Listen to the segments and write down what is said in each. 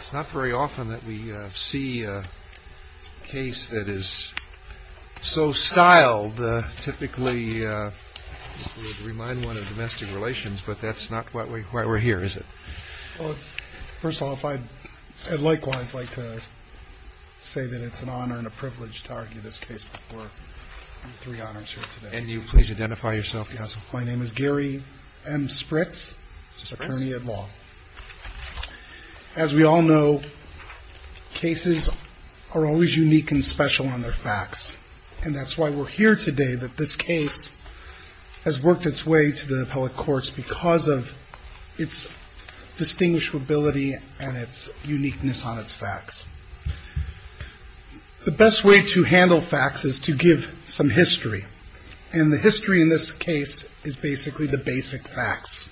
It's not very often that we see a case that is so styled. Typically, we would remind one of domestic relations, but that's not why we're here, is it? Well, first of all, I'd likewise like to say that it's an honor and a privilege to argue this case before three honors here today. And you please identify yourself. My name is Gary M. Spritz, attorney at law. As we all know, cases are always unique and special on their facts. And that's why we're here today, that this case has worked its way to the appellate courts because of its distinguishability and its uniqueness on its facts. The best way to handle facts is to give some history, and the history in this case is basically the basic facts.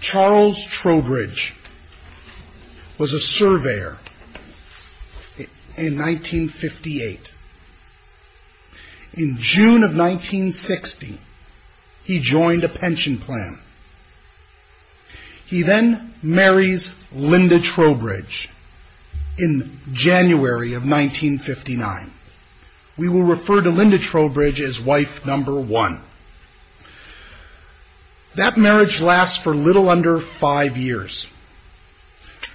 Charles Trowbridge was a surveyor in 1958. In June of 1960, he joined a pension plan. He then marries Linda Trowbridge in January of 1959. We will refer to Linda Trowbridge as wife number one. That marriage lasts for little under five years.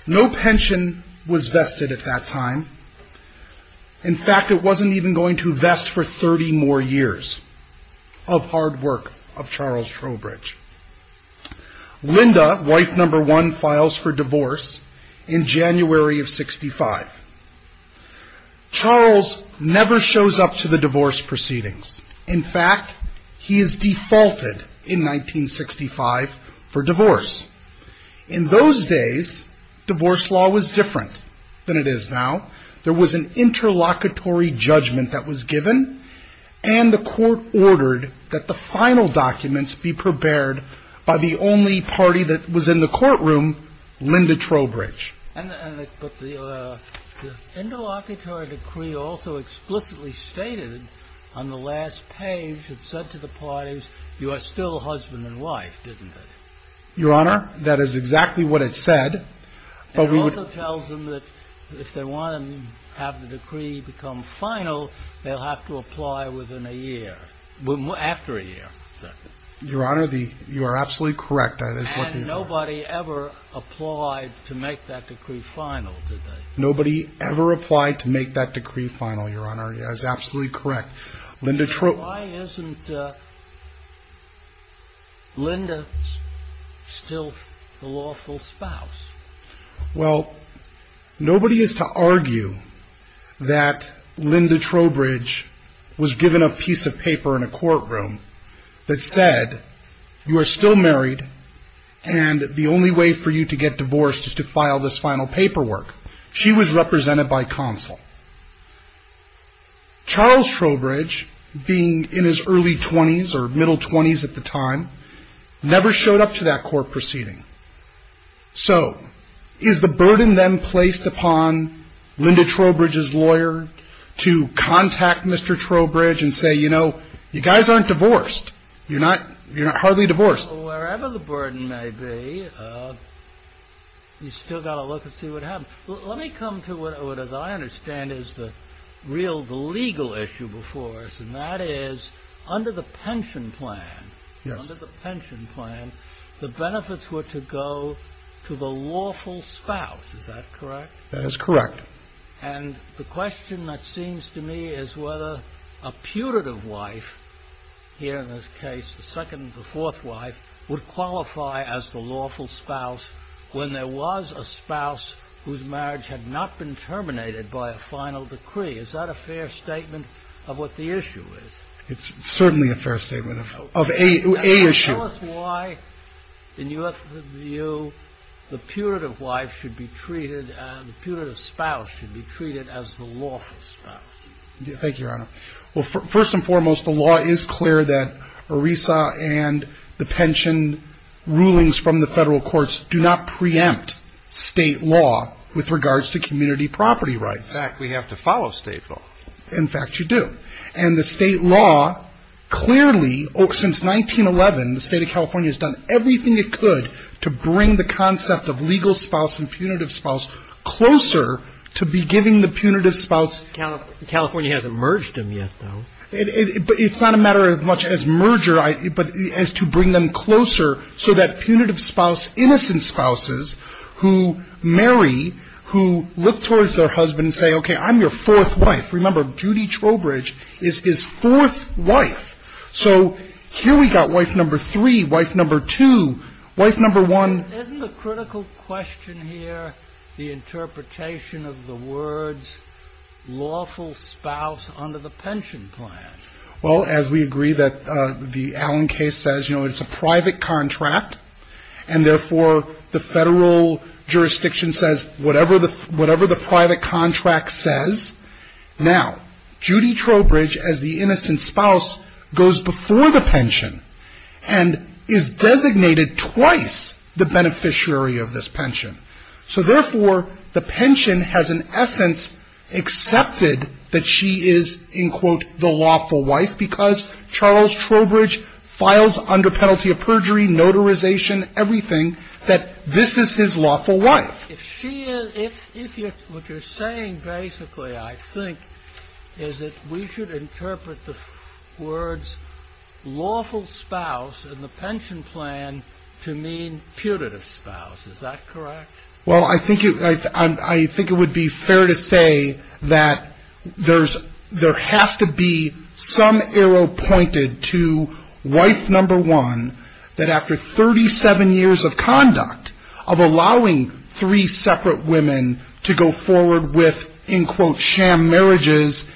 No pension was vested at that time. In fact, it wasn't even going to vest for 30 more years of hard work of Charles Trowbridge. Linda, wife number one, files for divorce in January of 65. Charles never shows up to the divorce proceedings. In fact, he is defaulted in 1965 for divorce. In those days, divorce law was different than it is now. There was an interlocutory judgment that was given, and the court ordered that the final documents be prepared by the only party that was in the courtroom, Linda Trowbridge. The interlocutory decree also explicitly stated on the last page, it said to the parties, you are still husband and wife, didn't it? Your Honor, that is exactly what it said. It also tells them that if they want to have the decree become final, they'll have to apply within a year, after a year. Your Honor, you are absolutely correct. And nobody ever applied to make that decree final, did they? Nobody ever applied to make that decree final, Your Honor. That is absolutely correct. Why isn't Linda still the lawful spouse? Well, nobody is to argue that Linda Trowbridge was given a piece of paper in a courtroom that said, you are still married, and the only way for you to get divorced is to file this final paperwork. She was represented by counsel. Charles Trowbridge, being in his early 20s or middle 20s at the time, never showed up to that court proceeding. So is the burden then placed upon Linda Trowbridge's lawyer to contact Mr. Trowbridge and say, you know, you guys aren't divorced. You're not hardly divorced. Well, wherever the burden may be, you've still got to look and see what happens. Let me come to what, as I understand, is the real legal issue before us, and that is under the pension plan. Yes. Under the pension plan, the benefits were to go to the lawful spouse. Is that correct? That is correct. And the question that seems to me is whether a putative wife here in this case, the second and the fourth wife, would qualify as the lawful spouse when there was a spouse whose marriage had not been terminated by a final decree. Is that a fair statement of what the issue is? It's certainly a fair statement of a issue. Tell us why, in your view, the putative spouse should be treated as the lawful spouse. Thank you, Your Honor. Well, first and foremost, the law is clear that ERISA and the pension rulings from the federal courts do not preempt state law with regards to community property rights. In fact, we have to follow state law. In fact, you do. And the state law clearly, since 1911, the State of California has done everything it could to bring the concept of legal spouse and punitive spouse closer to beginning the punitive spouse. California hasn't merged them yet, though. It's not a matter as much as merger, but as to bring them closer so that punitive spouse, innocent spouses who marry, who look towards their husband and say, okay, I'm your fourth wife. Remember, Judy Trowbridge is his fourth wife. So here we got wife number three, wife number two, wife number one. Isn't the critical question here the interpretation of the words lawful spouse under the pension plan? Well, as we agree that the Allen case says, you know, it's a private contract, and therefore the federal jurisdiction says whatever the private contract says. Now, Judy Trowbridge, as the innocent spouse, goes before the pension and is designated twice the beneficiary of this pension. So, therefore, the pension has, in essence, accepted that she is, in quote, the lawful wife because Charles Trowbridge files under penalty of perjury, notarization, everything, that this is his lawful wife. What you're saying, basically, I think, is that we should interpret the words lawful spouse in the pension plan to mean punitive spouse. Is that correct? Well, I think it would be fair to say that there has to be some arrow pointed to wife number one that after 37 years of conduct, of allowing three separate women to go forward with, in quote, sham marriages,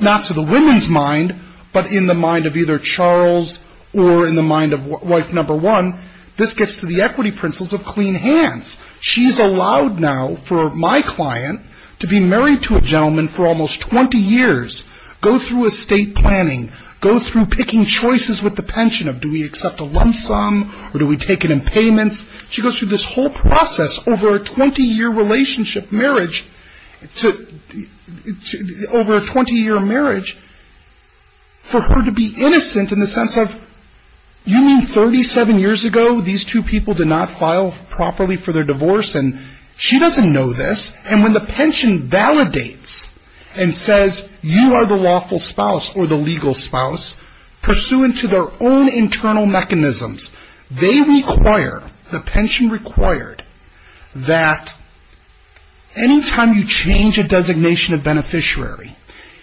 not to the women's mind, but in the mind of either Charles or in the mind of wife number one, this gets to the equity principles of clean hands. She's allowed now for my client to be married to a gentleman for almost 20 years, go through estate planning, go through picking choices with the pension of do we accept a lump sum or do we take it in payments. She goes through this whole process over a 20 year marriage for her to be innocent in the sense of you mean 37 years ago these two people did not file properly for their divorce and she doesn't know this. And when the pension validates and says you are the lawful spouse or the legal spouse pursuant to their own internal mechanisms, they require, the pension required, that any time you change a designation of beneficiary,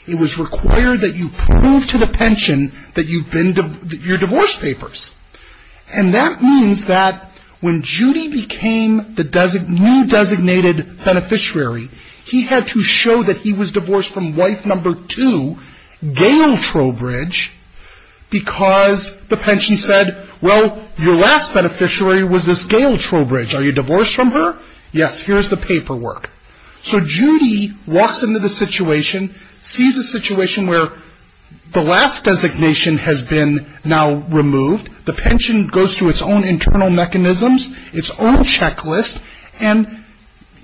it was required that you prove to the pension that you've been, that you're divorce papers. And that means that when Judy became the new designated beneficiary, he had to show that he was divorced from wife number two, Gail Trowbridge, because the pension said, well, your last beneficiary was this Gail Trowbridge, are you divorced from her? Yes, here's the paperwork. So Judy walks into the situation, sees a situation where the last designation has been now removed, the pension goes through its own internal mechanisms, its own checklist, and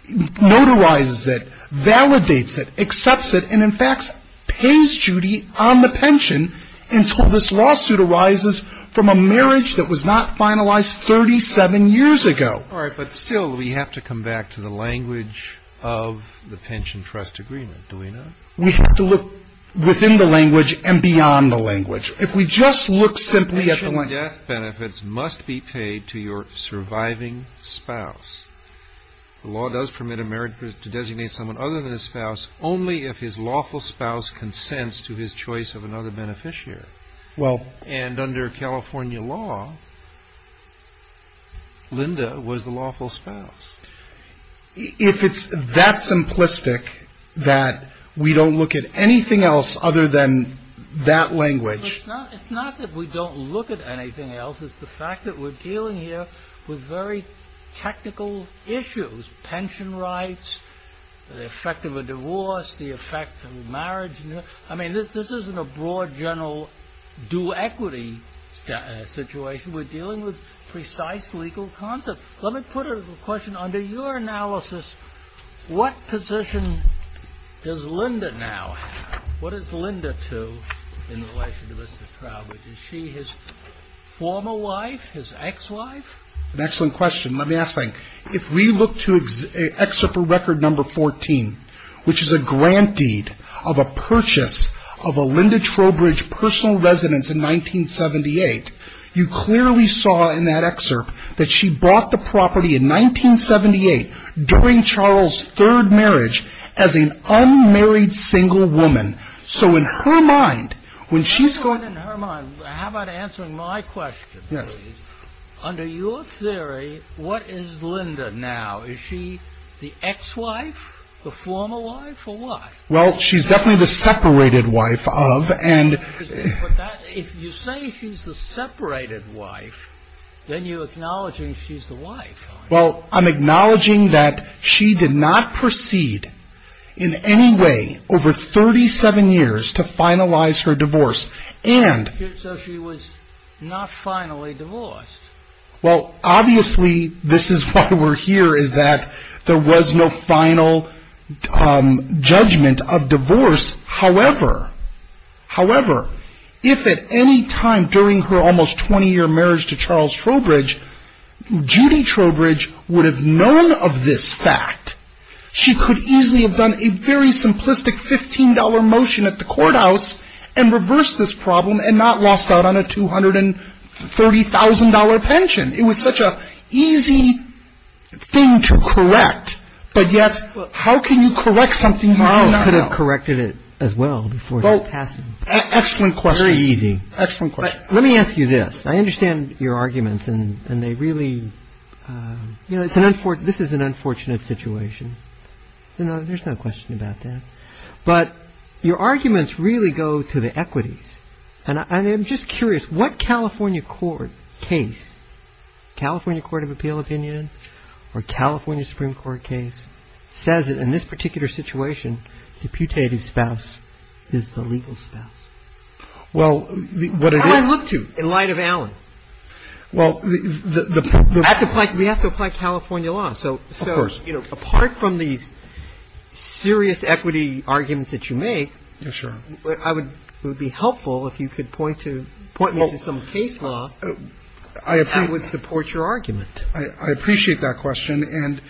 notarizes it, validates it, accepts it, and in fact pays Judy on the pension until this lawsuit arises from a marriage that was not finalized 37 years ago. All right, but still we have to come back to the language of the pension trust agreement, do we not? We have to look within the language and beyond the language. If we just look simply at the language. Pension death benefits must be paid to your surviving spouse. The law does permit a marriage to designate someone other than a spouse only if his lawful spouse consents to his choice of another beneficiary. And under California law, Linda was the lawful spouse. If it's that simplistic that we don't look at anything else other than that language. It's not that we don't look at anything else, it's the fact that we're dealing here with very technical issues. Pension rights, the effect of a divorce, the effect of marriage, I mean this isn't a broad general due equity situation, we're dealing with precise legal concepts. Let me put a question under your analysis, what position does Linda now have? What is Linda to in relation to Mr. Trowbridge? Is she his former wife, his ex-wife? An excellent question. Let me ask something. If we look to excerpt from record number 14, which is a grant deed of a purchase of a Linda Trowbridge personal residence in 1978, you clearly saw in that excerpt that she bought the property in 1978 during Charles' third marriage as an unmarried single woman. How about answering my question? Under your theory, what is Linda now? Is she the ex-wife, the former wife, or what? Well, she's definitely the separated wife of. If you say she's the separated wife, then you're acknowledging she's the wife. Well, I'm acknowledging that she did not proceed in any way over 37 years to finalize her divorce. So she was not finally divorced. Well, obviously, this is why we're here, is that there was no final judgment of divorce. However, if at any time during her almost 20-year marriage to Charles Trowbridge, Judy Trowbridge would have known of this fact, she could easily have done a very simplistic $15 motion at the courthouse and reversed this problem and not lost out on a $230,000 pension. It was such an easy thing to correct, but yet how can you correct something you do not know? You could have corrected it as well before passing. Excellent question. Very easy. Excellent question. Let me ask you this. I understand your arguments, and they really – this is an unfortunate situation. There's no question about that. But your arguments really go to the equities. And I'm just curious, what California court case – California Court of Appeal opinion or California Supreme Court case – says that in this particular situation, the putative spouse is the legal spouse? Well, what it is – How do I look to in light of Allen? Well, the – We have to apply California law. Of course. So apart from these serious equity arguments that you make – Yes, sir. It would be helpful if you could point to – point me to some case law that would support your argument. I appreciate that question. And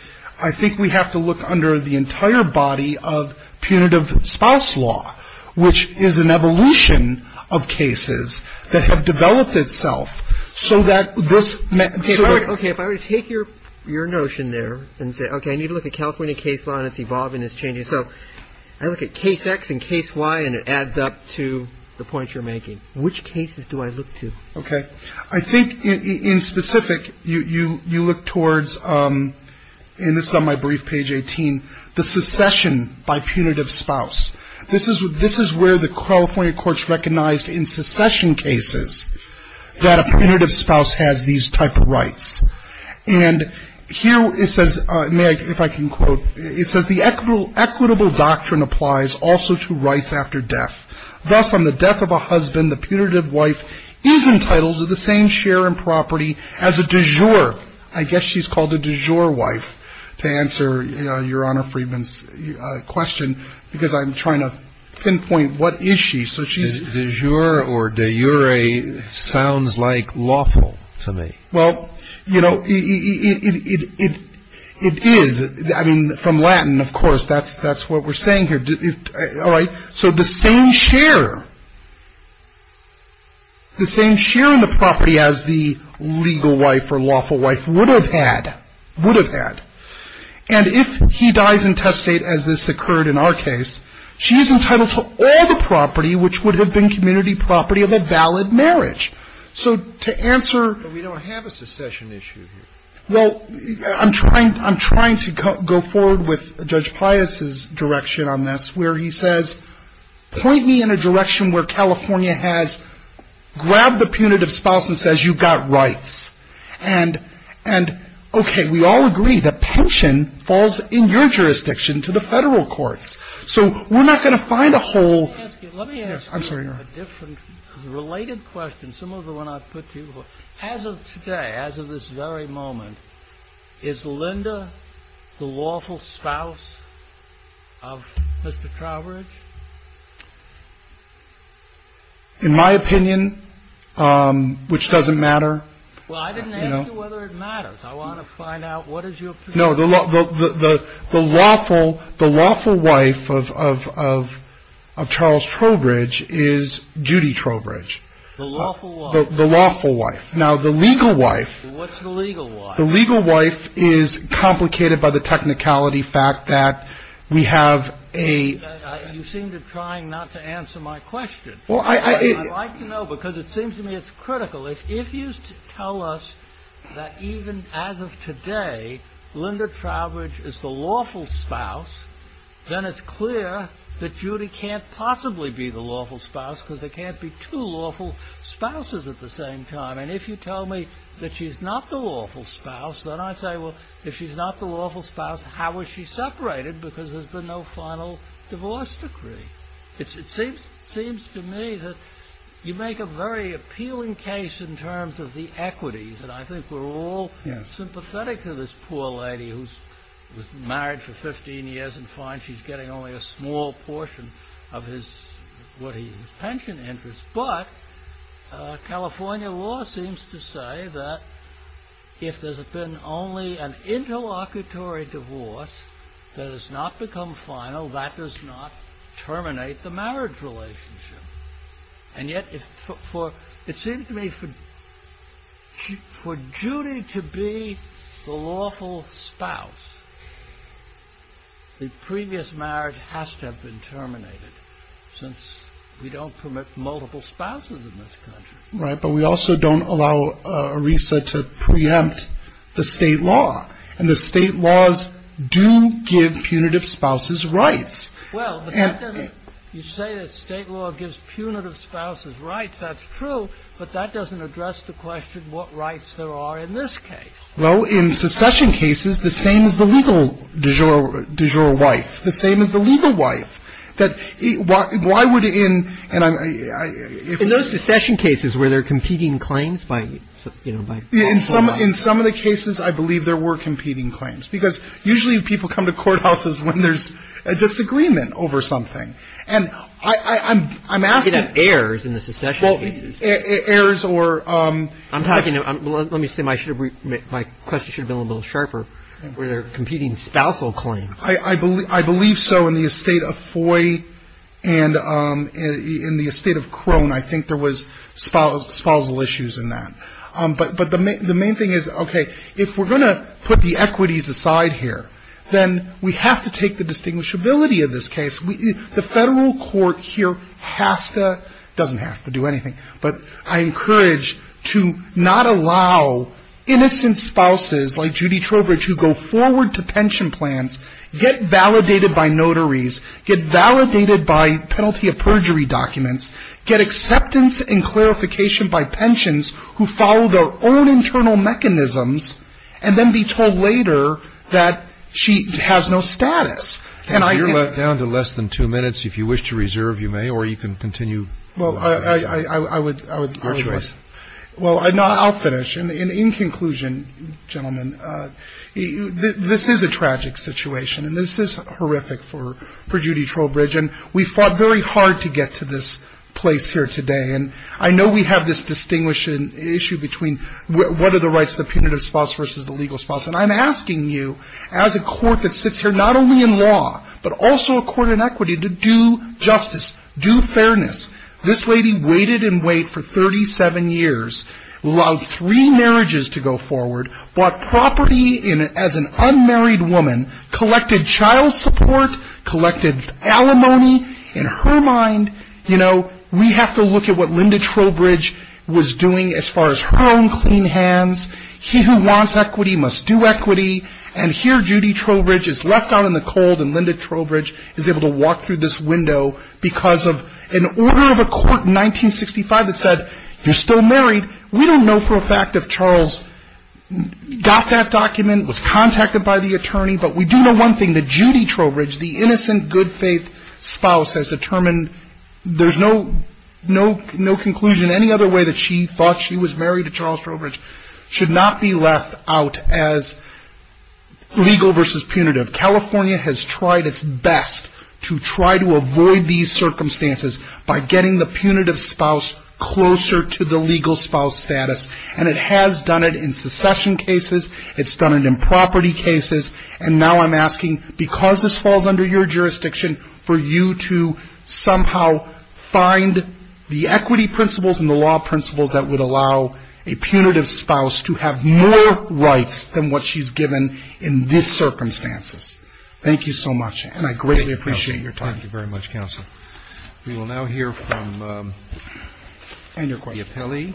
I think we have to look under the entire body of punitive spouse law, which is an evolution of cases that have developed itself so that this – Okay. If I were to take your notion there and say, okay, I need to look at California case law and its evolving, its changing. So I look at case X and case Y, and it adds up to the point you're making. Which cases do I look to? Okay. I think in specific, you look towards – and this is on my brief, page 18 – the secession by punitive spouse. This is where the California courts recognized in secession cases that a punitive spouse has these type of rights. And here it says – may I – if I can quote – it says the equitable doctrine applies also to rights after death. Thus, on the death of a husband, the punitive wife is entitled to the same share in property as a de jure. I guess she's called a de jure wife, to answer Your Honor Friedman's question, because I'm trying to pinpoint what is she. So she's – De jure or de jure sounds like lawful to me. Well, you know, it is. I mean, from Latin, of course, that's what we're saying here. All right. So the same share, the same share in the property as the legal wife or lawful wife would have had, would have had. And if he dies in testate, as this occurred in our case, she is entitled to all the property, which would have been community property of a valid marriage. So to answer – But we don't have a secession issue here. Well, I'm trying – I'm trying to go forward with Judge Pius's direction on this, where he says, point me in a direction where California has grabbed the punitive spouse and says you've got rights. And, okay, we all agree that pension falls in your jurisdiction to the Federal courts. So we're not going to find a whole – Let me ask you – I'm sorry, Your Honor. I have a different related question, similar to the one I put to you before. As of today, as of this very moment, is Linda the lawful spouse of Mr. Trowbridge? In my opinion, which doesn't matter – Well, I didn't ask you whether it matters. I want to find out what is your opinion. No, the lawful – the lawful wife of Charles Trowbridge is Judy Trowbridge. The lawful wife. The lawful wife. Now, the legal wife – What's the legal wife? The legal wife is complicated by the technicality fact that we have a – You seem to be trying not to answer my question. Well, I – is the lawful spouse, then it's clear that Judy can't possibly be the lawful spouse because there can't be two lawful spouses at the same time. And if you tell me that she's not the lawful spouse, then I say, well, if she's not the lawful spouse, how was she separated? Because there's been no final divorce decree. It seems to me that you make a very appealing case in terms of the equities. And I think we're all sympathetic to this poor lady who's married for 15 years and finds she's getting only a small portion of his – what he – his pension interest. But California law seems to say that if there's been only an interlocutory divorce that has not become final, that does not terminate the marriage relationship. And yet for – it seems to me for Judy to be the lawful spouse, the previous marriage has to have been terminated since we don't permit multiple spouses in this country. Right, but we also don't allow ERISA to preempt the state law. And the state laws do give punitive spouses rights. Well, but that doesn't – you say that state law gives punitive spouses rights. That's true. But that doesn't address the question what rights there are in this case. Well, in secession cases, the same as the legal du jour wife. The same as the legal wife. That – why would in – and I'm – In those secession cases, were there competing claims by, you know, by lawful wife? In some – in some of the cases, I believe there were competing claims. Because usually people come to courthouses when there's a disagreement over something. And I'm asking – You could have heirs in the secession cases. Heirs or – I'm talking – let me say my question should have been a little sharper. Were there competing spousal claims? I believe so in the estate of Foy and in the estate of Crone. I think there was spousal issues in that. But the main thing is, okay, if we're going to put the equities aside here, then we have to take the distinguishability of this case. The federal court here has to – doesn't have to do anything. But I encourage to not allow innocent spouses like Judy Trowbridge who go forward to pension plans, get validated by notaries, get validated by penalty of perjury documents, get acceptance and clarification by pensions who follow their own internal mechanisms and then be told later that she has no status. And I can't – You're down to less than two minutes. If you wish to reserve, you may, or you can continue. Well, I would – Your choice. Well, I'll finish. In conclusion, gentlemen, this is a tragic situation. And this is horrific for Judy Trowbridge. And we fought very hard to get to this place here today. And I know we have this distinguishing issue between what are the rights of the punitive spouse versus the legal spouse. And I'm asking you as a court that sits here not only in law but also a court in equity to do justice, do fairness. This lady waited and waited for 37 years, allowed three marriages to go forward, bought property as an unmarried woman, collected child support, collected alimony. In her mind, you know, we have to look at what Linda Trowbridge was doing as far as her own clean hands. He who wants equity must do equity. And here Judy Trowbridge is left out in the cold and Linda Trowbridge is able to walk through this window because of an order of a court in 1965 that said you're still married. We don't know for a fact if Charles got that document, was contacted by the attorney. But we do know one thing, that Judy Trowbridge, the innocent good faith spouse, has determined there's no conclusion any other way that she thought she was married to Charles Trowbridge should not be left out as legal versus punitive. California has tried its best to try to avoid these circumstances by getting the punitive spouse closer to the legal spouse status. And it has done it in secession cases. It's done it in property cases. And now I'm asking, because this falls under your jurisdiction, for you to somehow find the equity principles and the law principles that would allow a punitive spouse to have more rights than what she's given in this circumstances. Thank you so much. And I greatly appreciate your time. Thank you very much, counsel. We will now hear from the appellee.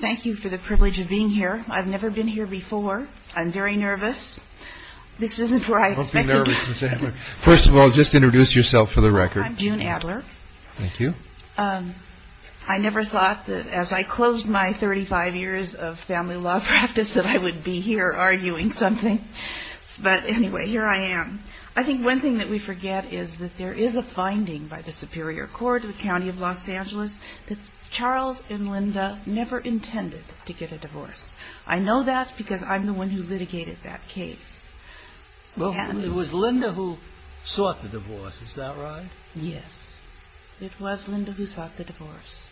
Thank you for the privilege of being here. I've never been here before. I'm very nervous. This isn't where I expected to be. Don't be nervous, Ms. Adler. First of all, just introduce yourself for the record. I'm June Adler. Thank you. I never thought that as I closed my 35 years of family law practice that I would be here arguing something. But anyway, here I am. I think one thing that we forget is that there is a finding by the Superior Court of the County of Los Angeles that Charles and Linda never intended to get a divorce. I know that because I'm the one who litigated that case. Well, it was Linda who sought the divorce. Is that right? Yes. It was Linda who sought the divorce.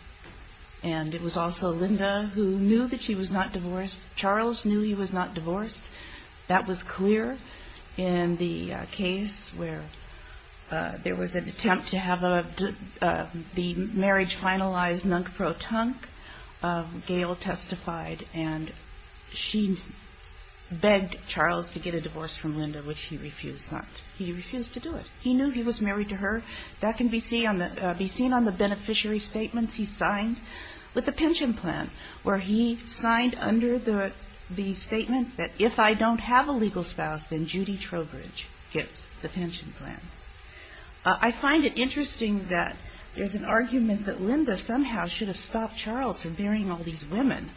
And it was also Linda who knew that she was not divorced. Charles knew he was not divorced. That was clear in the case where there was an attempt to have the marriage finalized, nunc pro tonc. Gail testified, and she begged Charles to get a divorce from Linda, which he refused not. He refused to do it. He knew he was married to her. That can be seen on the beneficiary statements he signed with the pension plan, where he signed under the statement that if I don't have a legal spouse, then Judy Trowbridge gets the pension plan. I find it interesting that there's an argument that Linda somehow should have stopped Charles from marrying all these women.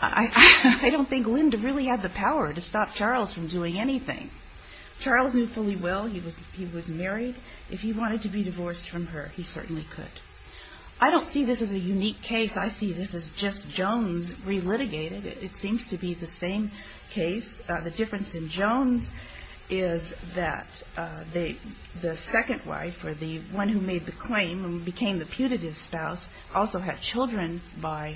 I don't think Linda really had the power to stop Charles from doing anything. Charles knew fully well he was married. If he wanted to be divorced from her, he certainly could. I don't see this as a unique case. I see this as just Jones relitigated. It seems to be the same case. The difference in Jones is that the second wife, or the one who made the claim and became the putative spouse, also had children by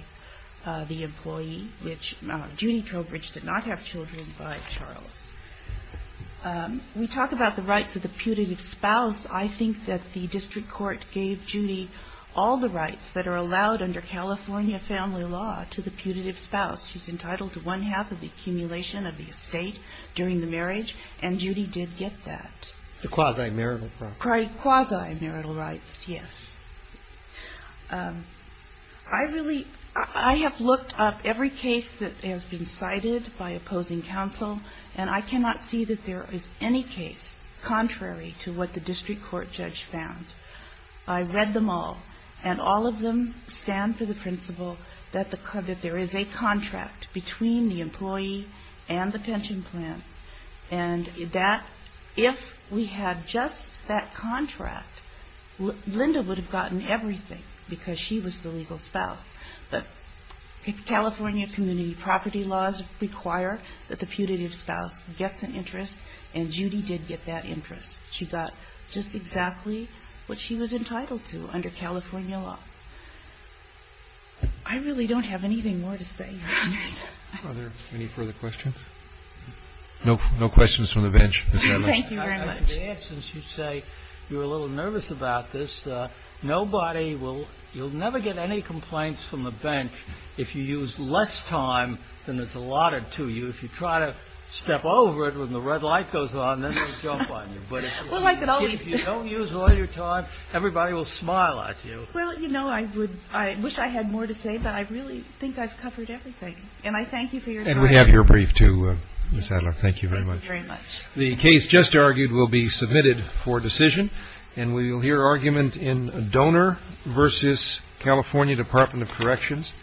the employee, which Judy Trowbridge did not have children by Charles. We talk about the rights of the putative spouse. I think that the district court gave Judy all the rights that are allowed under California family law to the putative spouse. She's entitled to one half of the accumulation of the estate during the marriage, and Judy did get that. The quasi-marital rights. Quasi-marital rights, yes. I have looked up every case that has been cited by opposing counsel, and I cannot see that there is any case contrary to what the district court judge found. I read them all, and all of them stand for the principle that there is a contract between the employee and the pension plan, and that if we had just that contract, Linda would have gotten everything because she was the legal spouse. The California community property laws require that the putative spouse gets an interest, and Judy did get that interest. She got just exactly what she was entitled to under California law. I really don't have anything more to say, Your Honors. Are there any further questions? No questions from the bench. Thank you very much. In the absence, you say you're a little nervous about this. Nobody will ñ you'll never get any complaints from the bench if you use less time than is allotted to you. If you try to step over it when the red light goes on, then they'll jump on you. But if you don't use all your time, everybody will smile at you. Well, you know, I wish I had more to say, but I really think I've covered everything. And I thank you for your time. And we have your brief, too, Ms. Adler. Thank you very much. Thank you very much. The case just argued will be submitted for decision. And we will hear argument in donor versus California Department of Corrections.